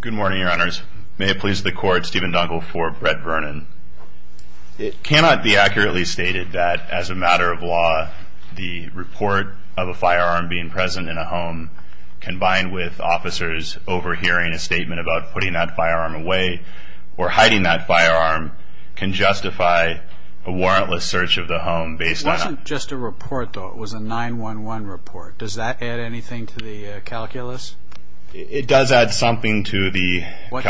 Good morning, your honors. May it please the court, Steven Dunkel for Brett Vernon. It cannot be accurately stated that, as a matter of law, the report of a firearm being present in a home, combined with officers overhearing a statement about putting that firearm away or hiding that firearm, can justify a warrantless search of the home based on... It wasn't just a report, though. It was a 911 report. Does that add anything to the calculus? It does add something to the... What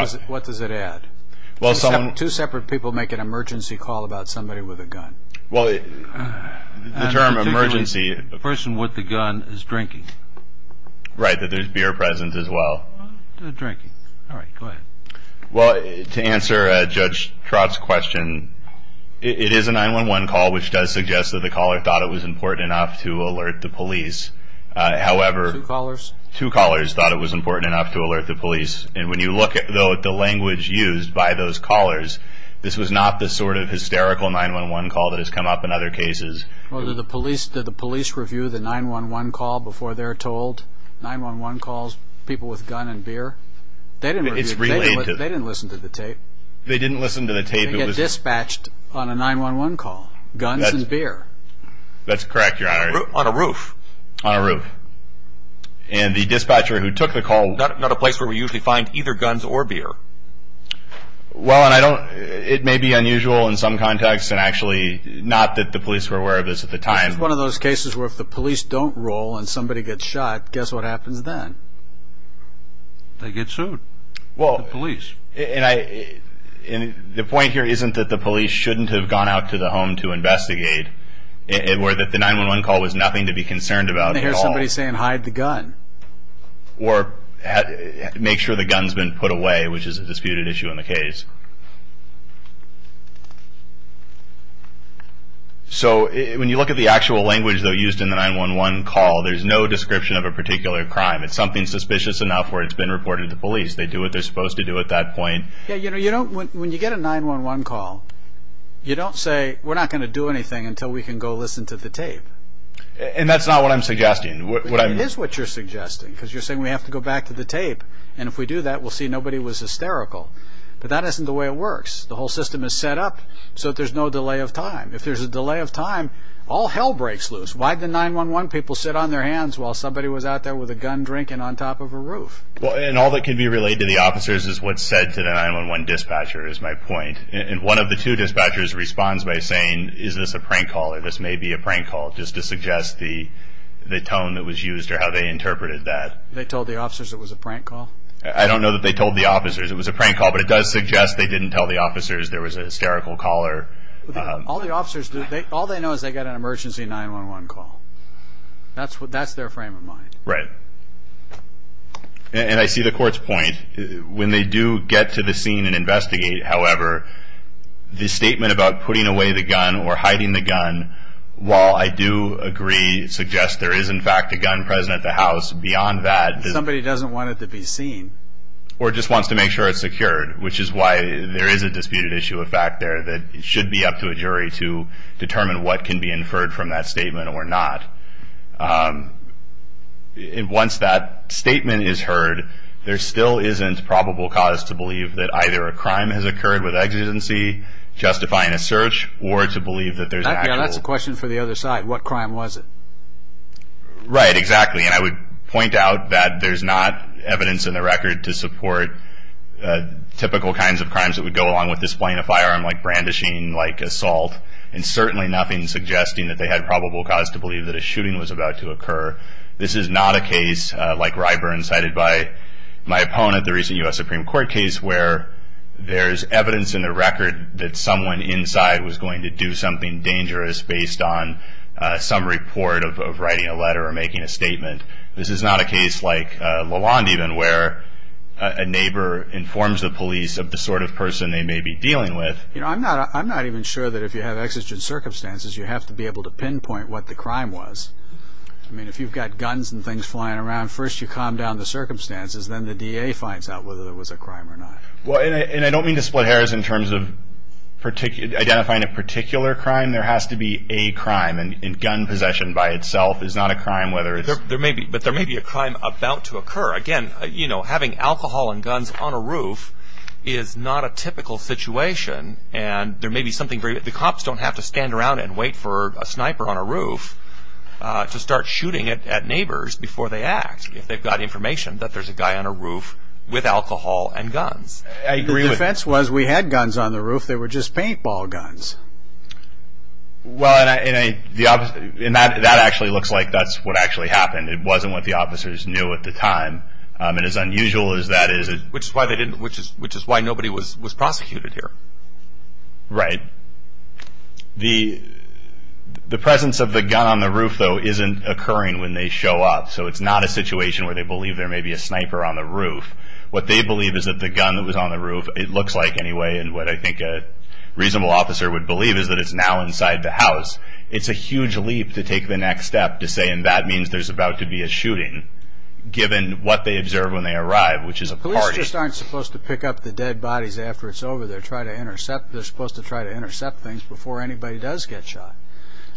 does it add? Two separate people make an emergency call about somebody with a gun. Well, the term emergency... The person with the gun is drinking. Right, that there's beer present as well. Drinking. All right, go ahead. Well, to answer Judge Trott's question, it is a 911 call, which does suggest that the caller thought it was important enough to alert the police. Two callers? Two callers thought it was important enough to alert the police. And when you look at the language used by those callers, this was not the sort of hysterical 911 call that has come up in other cases. Well, did the police review the 911 call before they're told? 911 calls, people with gun and beer? They didn't listen to the tape. They didn't listen to the tape. They get dispatched on a 911 call. Guns and beer. That's correct, your honor. On a roof? On a roof. And the dispatcher who took the call... Not a place where we usually find either guns or beer. Well, and I don't... It may be unusual in some contexts, and actually not that the police were aware of this at the time. It's one of those cases where if the police don't roll and somebody gets shot, guess what happens then? They get sued. Well... The police. And the point here isn't that the police shouldn't have gone out to the home to investigate, or that the 911 call was nothing to be concerned about at all. They hear somebody saying, hide the gun. Or make sure the gun's been put away, which is a disputed issue in the case. So when you look at the actual language, though, used in the 911 call, there's no description of a particular crime. It's something suspicious enough where it's been reported to police. They do what they're supposed to do at that point. Yeah, you know, when you get a 911 call, you don't say, we're not going to do anything until we can go listen to the tape. And that's not what I'm suggesting. It is what you're suggesting. Because you're saying we have to go back to the tape. And if we do that, we'll see nobody was hysterical. But that isn't the way it works. The whole system is set up so that there's no delay of time. If there's a delay of time, all hell breaks loose. Why did the 911 people sit on their hands while somebody was out there with a gun drinking on top of a roof? And all that can be related to the officers is what's said to the 911 dispatcher, is my point. And one of the two dispatchers responds by saying, is this a prank call or this may be a prank call, just to suggest the tone that was used or how they interpreted that. They told the officers it was a prank call? I don't know that they told the officers it was a prank call. But it does suggest they didn't tell the officers there was a hysterical caller. All the officers do, all they know is they got an emergency 911 call. That's their frame of mind. Right. And I see the court's point. When they do get to the scene and investigate, however, the statement about putting away the gun or hiding the gun, while I do agree it suggests there is in fact a gun present at the house, beyond that, Somebody doesn't want it to be seen. or just wants to make sure it's secured, which is why there is a disputed issue of fact there that it should be up to a jury to determine what can be inferred from that statement or not. Once that statement is heard, there still isn't probable cause to believe that either a crime has occurred with exigency, justifying a search, or to believe that there's an actual... That's a question for the other side. What crime was it? Right, exactly. And I would point out that there's not evidence in the record to support typical kinds of crimes that would go along with displaying a firearm, like brandishing, like assault, and certainly nothing suggesting that they had probable cause to believe that a shooting was about to occur. This is not a case like Ryburn cited by my opponent, the recent U.S. Supreme Court case, where there's evidence in the record that someone inside was going to do something dangerous based on some report of writing a letter or making a statement. This is not a case like Lalonde even, where a neighbor informs the police of the sort of person they may be dealing with. I'm not even sure that if you have exigent circumstances, you have to be able to pinpoint what the crime was. I mean, if you've got guns and things flying around, first you calm down the circumstances, then the DA finds out whether it was a crime or not. And I don't mean to split hairs in terms of identifying a particular crime. There has to be a crime, and gun possession by itself is not a crime whether it's... But there may be a crime about to occur. Again, having alcohol and guns on a roof is not a typical situation, and there may be something very... The cops don't have to stand around and wait for a sniper on a roof to start shooting at neighbors before they act, if they've got information that there's a guy on a roof with alcohol and guns. I agree with... The defense was we had guns on the roof. They were just paintball guns. Well, and that actually looks like that's what actually happened. It wasn't what the officers knew at the time, and as unusual as that is... Which is why nobody was prosecuted here. Right. The presence of the gun on the roof, though, isn't occurring when they show up, so it's not a situation where they believe there may be a sniper on the roof. What they believe is that the gun that was on the roof, it looks like anyway, and what I think a reasonable officer would believe is that it's now inside the house. It's a huge leap to take the next step to say, and that means there's about to be a shooting, given what they observe when they arrive, which is a party. Police just aren't supposed to pick up the dead bodies after it's over. They're supposed to try to intercept things before anybody does get shot.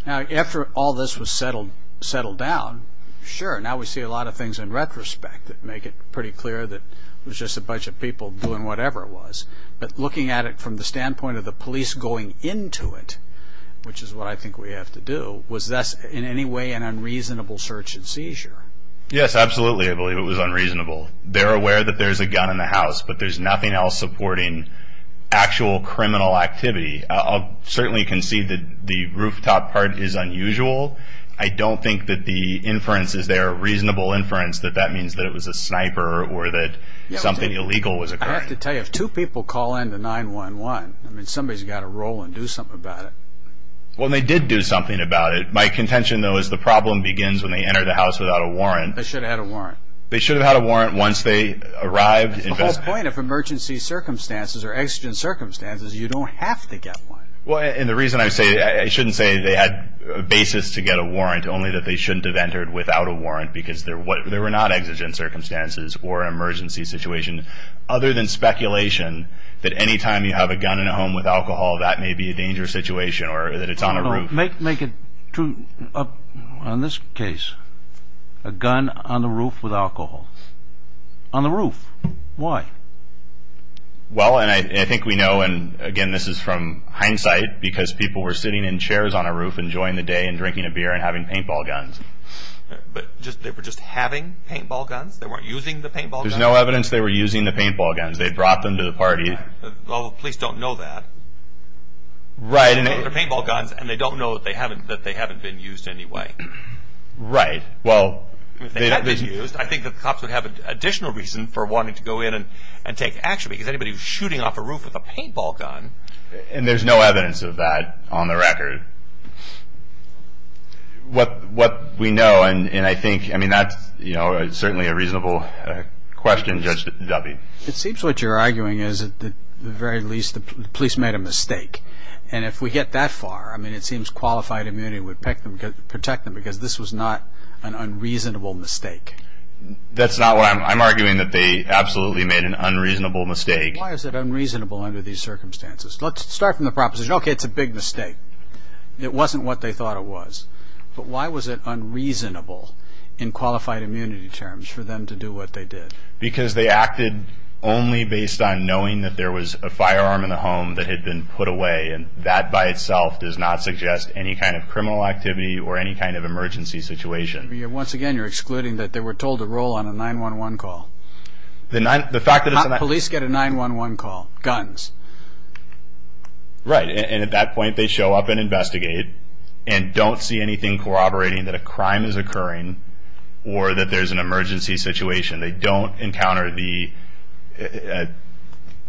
Now, after all this was settled down, sure, now we see a lot of things in retrospect that make it pretty clear that it was just a bunch of people doing whatever it was, but looking at it from the standpoint of the police going into it, which is what I think we have to do, was this in any way an unreasonable search and seizure? Yes, absolutely, I believe it was unreasonable. They're aware that there's a gun in the house, but there's nothing else supporting actual criminal activity. I'll certainly concede that the rooftop part is unusual. I don't think that the inference is there, a reasonable inference, that that means that it was a sniper or that something illegal was occurring. I have to tell you, if two people call in to 911, somebody's got to roll and do something about it. Well, and they did do something about it. My contention, though, is the problem begins when they enter the house without a warrant. They should have had a warrant. They should have had a warrant once they arrived. The whole point of emergency circumstances or exigent circumstances is you don't have to get one. And the reason I say, I shouldn't say they had a basis to get a warrant, only that they shouldn't have entered without a warrant because there were not exigent circumstances or emergency situations other than speculation that any time you have a gun in a home with alcohol, that may be a dangerous situation or that it's on a roof. Make it true. In this case, a gun on the roof with alcohol. On the roof. Why? Well, and I think we know, and again, this is from hindsight, because people were sitting in chairs on a roof enjoying the day and drinking a beer and having paintball guns. But they were just having paintball guns? They weren't using the paintball guns? There's no evidence they were using the paintball guns. They brought them to the party. Well, the police don't know that. Right. They brought their paintball guns, and they don't know that they haven't been used in any way. Right. If they had been used, I think the cops would have additional reason for wanting to go in and take action because anybody was shooting off a roof with a paintball gun. And there's no evidence of that on the record. What we know, and I think that's certainly a reasonable question, Judge Duffy. It seems what you're arguing is, at the very least, the police made a mistake. And if we get that far, I mean, it seems qualified immunity would protect them because this was not an unreasonable mistake. That's not what I'm arguing, that they absolutely made an unreasonable mistake. Why is it unreasonable under these circumstances? Let's start from the proposition, okay, it's a big mistake. It wasn't what they thought it was. But why was it unreasonable in qualified immunity terms for them to do what they did? Because they acted only based on knowing that there was a firearm in the home that had been put away, and that by itself does not suggest any kind of criminal activity or any kind of emergency situation. Once again, you're excluding that they were told to roll on a 911 call. The fact that it's a 911 call. Police get a 911 call, guns. Right, and at that point they show up and investigate and don't see anything corroborating that a crime is occurring or that there's an emergency situation. They don't encounter the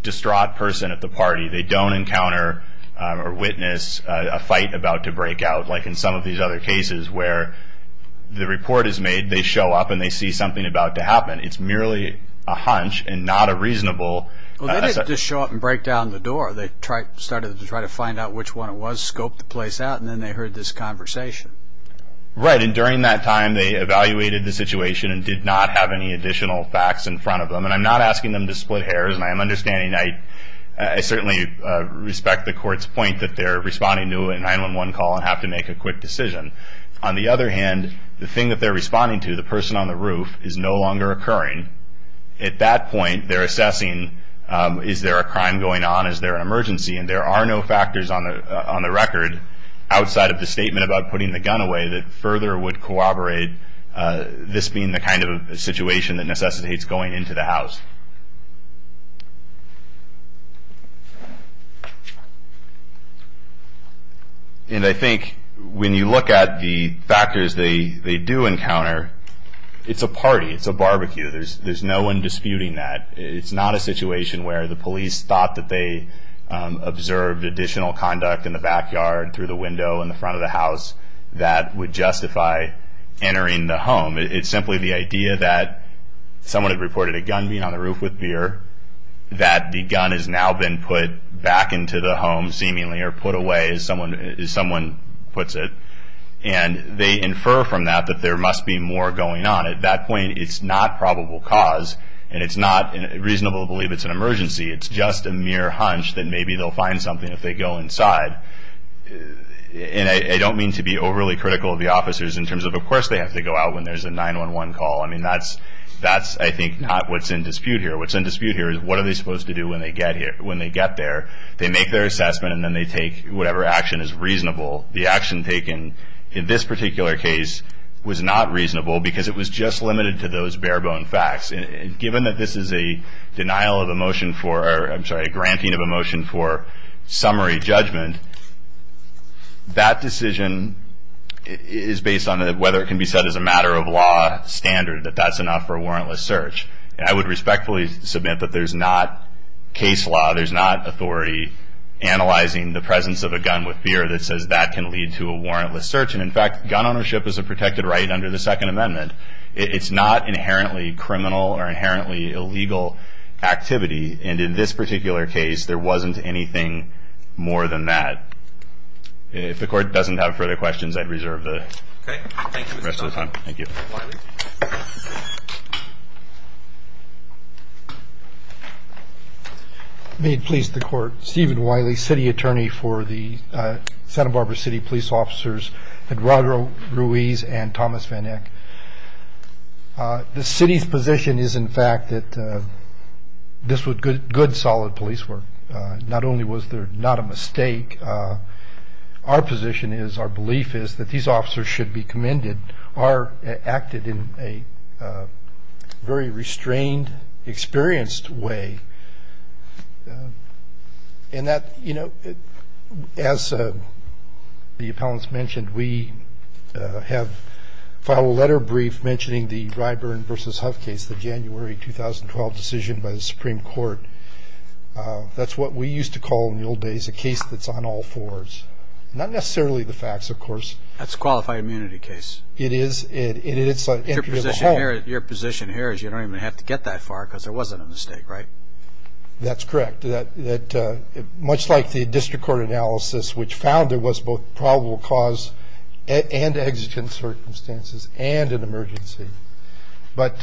distraught person at the party. They don't encounter or witness a fight about to break out, like in some of these other cases where the report is made, they show up and they see something about to happen. It's merely a hunch and not a reasonable. Well, they didn't just show up and break down the door. They started to try to find out which one it was, scoped the place out, and then they heard this conversation. Right, and during that time they evaluated the situation and did not have any additional facts in front of them. And I'm not asking them to split hairs, and I'm understanding. I certainly respect the court's point that they're responding to a 911 call and have to make a quick decision. On the other hand, the thing that they're responding to, the person on the roof, is no longer occurring. At that point they're assessing is there a crime going on, is there an emergency, and there are no factors on the record outside of the statement about putting the gun away that further would corroborate this being the kind of situation that necessitates going into the house. And I think when you look at the factors they do encounter, it's a party, it's a barbecue. There's no one disputing that. It's not a situation where the police thought that they observed additional conduct in the backyard, through the window, in the front of the house, that would justify entering the home. It's simply the idea that someone had reported a gun being on the roof with beer, that the gun has now been put back into the home seemingly, or put away as someone puts it. And they infer from that that there must be more going on. At that point it's not probable cause, and it's not reasonable to believe it's an emergency. It's just a mere hunch that maybe they'll find something if they go inside. And I don't mean to be overly critical of the officers in terms of, of course, they have to go out when there's a 911 call. I mean, that's, I think, not what's in dispute here. What's in dispute here is what are they supposed to do when they get there. They make their assessment, and then they take whatever action is reasonable. The action taken in this particular case was not reasonable because it was just limited to those bare-bone facts. And given that this is a denial of a motion for, I'm sorry, granting of a motion for summary judgment, that decision is based on whether it can be said as a matter of law standard, that that's enough for a warrantless search. And I would respectfully submit that there's not case law, there's not authority analyzing the presence of a gun with beer that says that can lead to a warrantless search. And, in fact, gun ownership is a protected right under the Second Amendment. It's not inherently criminal or inherently illegal activity. And in this particular case, there wasn't anything more than that. If the Court doesn't have further questions, I'd reserve the rest of the time. Thank you. May it please the Court. Stephen Wiley, City Attorney for the Santa Barbara City Police Officers, Eduardo Ruiz and Thomas Van Eck. The City's position is, in fact, that this was good, solid police work. Not only was there not a mistake, our position is, our belief is, that these officers should be commended are acted in a very restrained, experienced way. And that, you know, as the appellants mentioned, we have filed a letter brief mentioning the Ryburn v. Hough case, the January 2012 decision by the Supreme Court. That's what we used to call in the old days a case that's on all fours. Not necessarily the facts, of course. That's a qualified immunity case. It is. Your position here is you don't even have to get that far because there wasn't a mistake, right? That's correct. Much like the district court analysis, which found there was both probable cause and exigent circumstances and an emergency. But,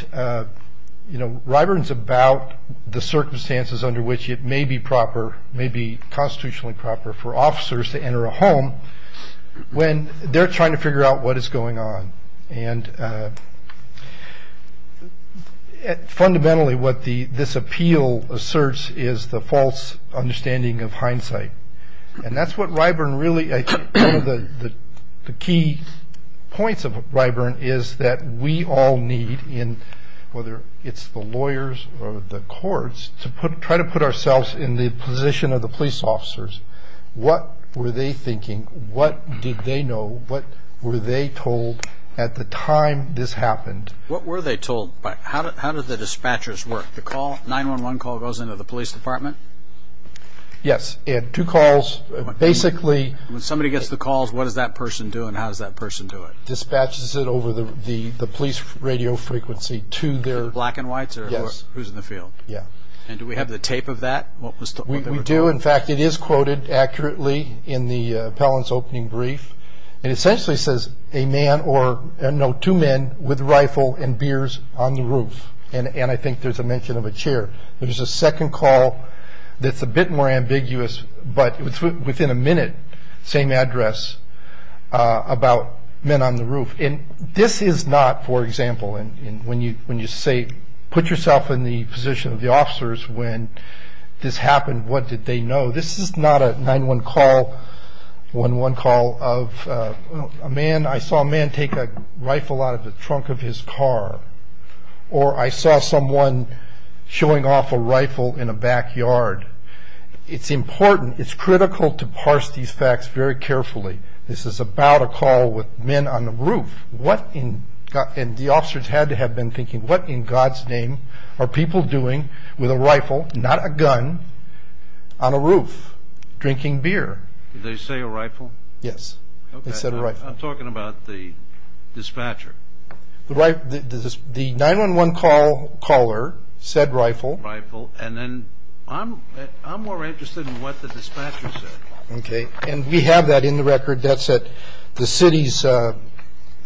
you know, Ryburn's about the circumstances under which it may be proper, may be constitutionally proper for officers to enter a home when they're trying to figure out what is going on. And fundamentally what this appeal asserts is the false understanding of hindsight. And that's what Ryburn really, I think, one of the key points of Ryburn is that we all need, whether it's the lawyers or the courts, to try to put ourselves in the position of the police officers. What were they thinking? What did they know? What were they told at the time this happened? What were they told? How did the dispatchers work? The 911 call goes into the police department? Yes. Two calls. Basically. When somebody gets the calls, what does that person do and how does that person do it? Dispatches it over the police radio frequency to their... To the black and whites or who's in the field? Yes. And do we have the tape of that? We do. In fact, it is quoted accurately in the appellant's opening brief. It essentially says a man or, no, two men with a rifle and beers on the roof. And I think there's a mention of a chair. There's a second call that's a bit more ambiguous, but within a minute, same address, about men on the roof. And this is not, for example, when you say put yourself in the position of the officers when this happened. What did they know? This is not a 911 call of a man. I saw a man take a rifle out of the trunk of his car. Or I saw someone showing off a rifle in a backyard. It's important, it's critical to parse these facts very carefully. This is about a call with men on the roof. And the officers had to have been thinking, what in God's name are people doing with a rifle, not a gun, on a roof, drinking beer? Did they say a rifle? Yes, they said a rifle. I'm talking about the dispatcher. The 911 caller said rifle. Rifle. And then I'm more interested in what the dispatcher said. Okay. And we have that in the record. That's at the city's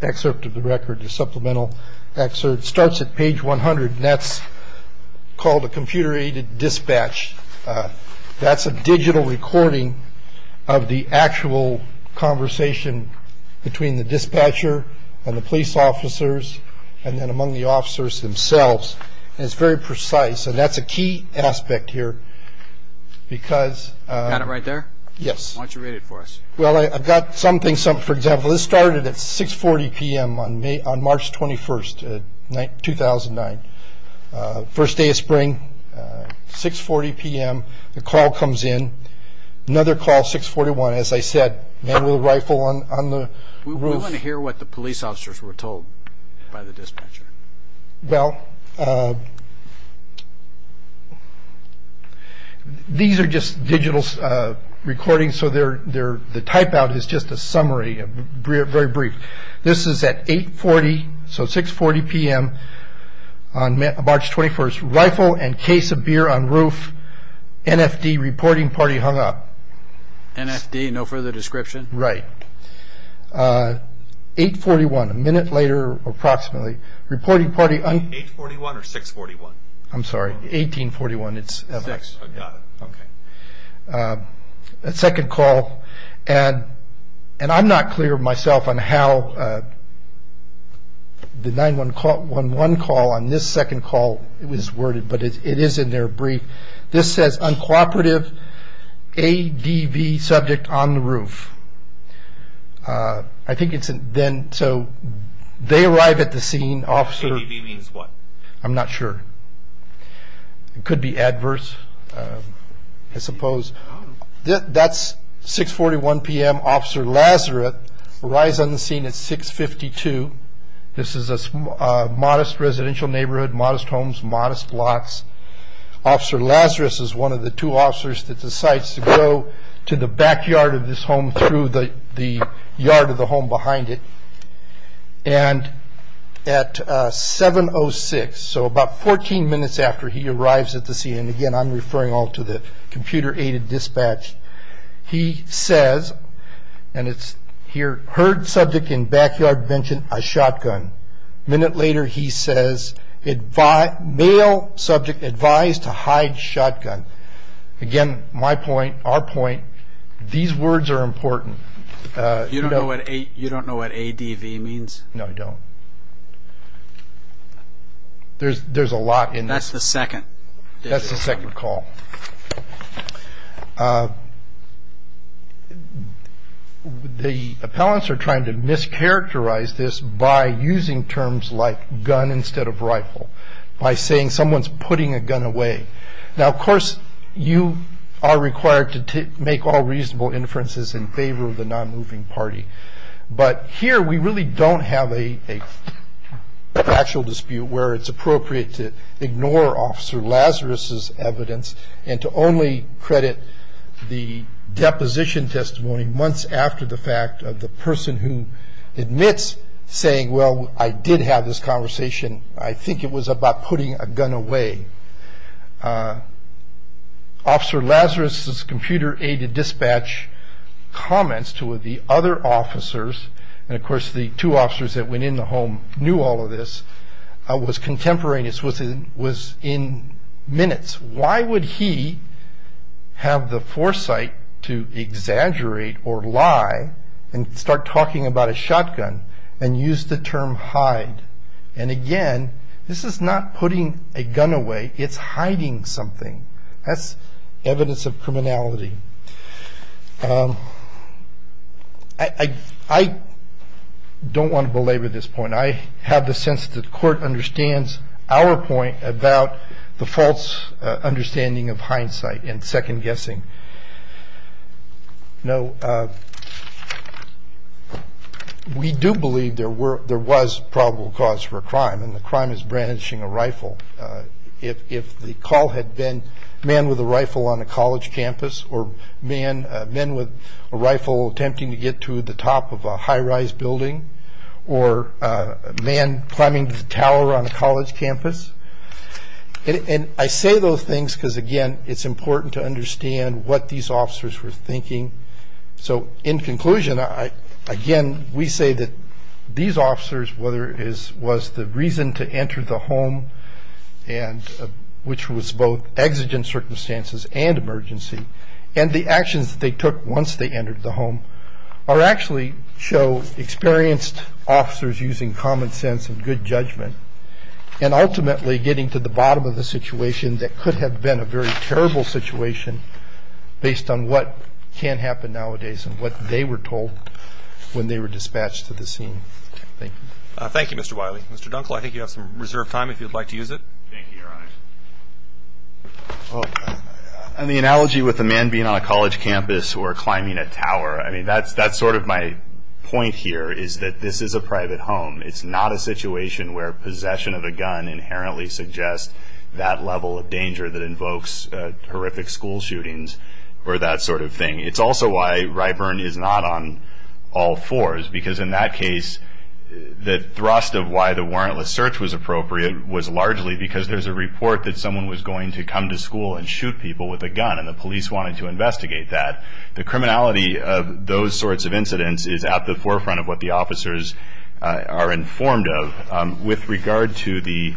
excerpt of the record, the supplemental excerpt. It starts at page 100, and that's called a computer-aided dispatch. That's a digital recording of the actual conversation between the dispatcher and the police officers, and then among the officers themselves. And it's very precise, and that's a key aspect here. Got it right there? Yes. Why don't you read it for us? Well, I've got something. For example, this started at 6.40 p.m. on March 21, 2009. First day of spring, 6.40 p.m., the call comes in. Another call, 6.41, as I said, man with a rifle on the roof. We want to hear what the police officers were told by the dispatcher. Well, these are just digital recordings, so the type-out is just a summary, very brief. This is at 8.40, so 6.40 p.m. on March 21, rifle and case of beer on roof, NFD, reporting party hung up. NFD, no further description? Right. 8.41, a minute later approximately. 8.41 or 6.41? I'm sorry, 18.41. Got it, okay. A second call, and I'm not clear myself on how the 911 call on this second call was worded, but it is in their brief. This says, uncooperative ADV subject on the roof. I think it's then, so they arrive at the scene. ADV means what? I'm not sure. It could be adverse, I suppose. That's 6.41 p.m., Officer Lazarus arrives on the scene at 6.52. This is a modest residential neighborhood, modest homes, modest blocks. Officer Lazarus is one of the two officers that decides to go to the backyard of this home through the yard of the home behind it. And at 7.06, so about 14 minutes after he arrives at the scene, and, again, I'm referring all to the computer-aided dispatch, he says, and it's here, heard subject in backyard mention a shotgun. A minute later, he says, male subject advised to hide shotgun. Again, my point, our point, these words are important. You don't know what ADV means? No, I don't. There's a lot in this. That's the second. That's the second call. The appellants are trying to mischaracterize this by using terms like gun instead of rifle, by saying someone's putting a gun away. Now, of course, you are required to make all reasonable inferences in favor of the nonmoving party. But here we really don't have a factual dispute where it's appropriate to ignore Officer Lazarus's evidence and to only credit the deposition testimony months after the fact of the person who admits saying, well, I did have this conversation. I think it was about putting a gun away. Officer Lazarus's computer-aided dispatch comments to the other officers, and, of course, the two officers that went in the home knew all of this, was contemporaneous, was in minutes. Why would he have the foresight to exaggerate or lie and start talking about a shotgun and use the term hide? And, again, this is not putting a gun away. It's hiding something. That's evidence of criminality. I don't want to belabor this point. I have the sense that the Court understands our point about the false understanding of hindsight and second-guessing. No, we do believe there were – there was probable cause for a crime, and the crime is brandishing a rifle. If the call had been man with a rifle on a college campus or men with a rifle attempting to get to the top of a high-rise building or a man climbing the tower on a college campus – and I say those things because, again, it's important to understand what these officers were thinking. So, in conclusion, again, we say that these officers, whether it was the reason to enter the home, which was both exigent circumstances and emergency, and the actions that they took once they entered the home, are actually – show experienced officers using common sense and good judgment and ultimately getting to the bottom of a situation that could have been a very terrible situation based on what can happen nowadays and what they were told when they were dispatched to the scene. Thank you. Thank you, Mr. Wiley. Mr. Dunkle, I think you have some reserved time if you'd like to use it. Thank you, Your Honor. In the analogy with a man being on a college campus or climbing a tower, I mean, that's sort of my point here, is that this is a private home. It's not a situation where possession of a gun inherently suggests that level of danger that invokes horrific school shootings or that sort of thing. It's also why Ryburn is not on all fours, because in that case the thrust of why the warrantless search was appropriate was largely because there's a report that someone was going to come to school and shoot people with a gun, and the police wanted to investigate that. The criminality of those sorts of incidents is at the forefront of what the officers are informed of. With regard to the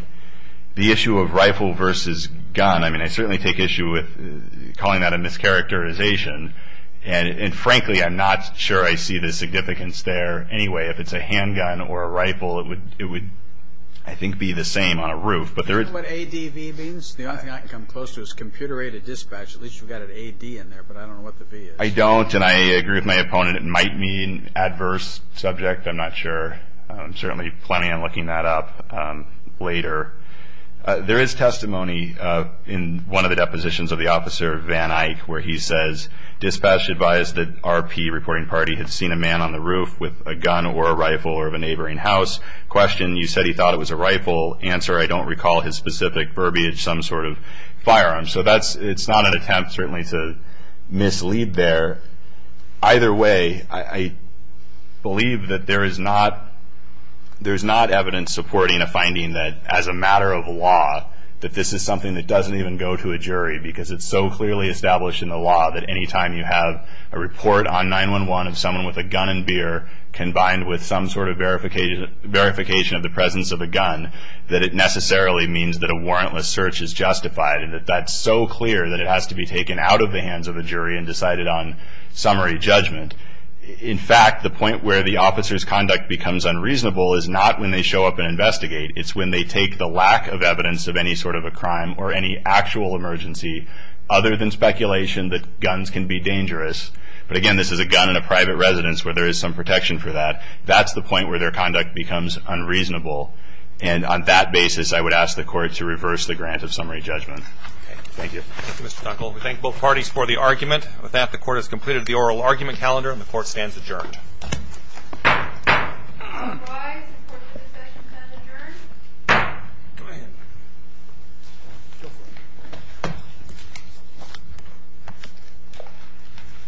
issue of rifle versus gun, I mean, I certainly take issue with calling that a mischaracterization, and frankly I'm not sure I see the significance there anyway. If it's a handgun or a rifle, it would, I think, be the same on a roof. Do you know what ADV means? The only thing I can come close to is computer-aided dispatch. At least you've got an AD in there, but I don't know what the V is. I don't, and I agree with my opponent. It might mean adverse subject. I'm not sure. There's certainly plenty on looking that up later. There is testimony in one of the depositions of the officer, Van Eyck, where he says, Dispatch advised that RP, reporting party, had seen a man on the roof with a gun or a rifle or of a neighboring house. Question, you said he thought it was a rifle. Answer, I don't recall his specific verbiage, some sort of firearm. So it's not an attempt, certainly, to mislead there. Either way, I believe that there is not evidence supporting a finding that, as a matter of law, that this is something that doesn't even go to a jury because it's so clearly established in the law that any time you have a report on 911 of someone with a gun and beer combined with some sort of verification of the presence of a gun, that it necessarily means that a warrantless search is justified and that that's so clear that it has to be taken out of the hands of a jury and decided on summary judgment. In fact, the point where the officer's conduct becomes unreasonable is not when they show up and investigate. It's when they take the lack of evidence of any sort of a crime or any actual emergency other than speculation that guns can be dangerous. But, again, this is a gun in a private residence where there is some protection for that. That's the point where their conduct becomes unreasonable. And on that basis, I would ask the Court to reverse the grant of summary judgment. Thank you. Thank you, Mr. Tucker. We thank both parties for the argument. With that, the Court has completed the oral argument calendar, and the Court stands adjourned.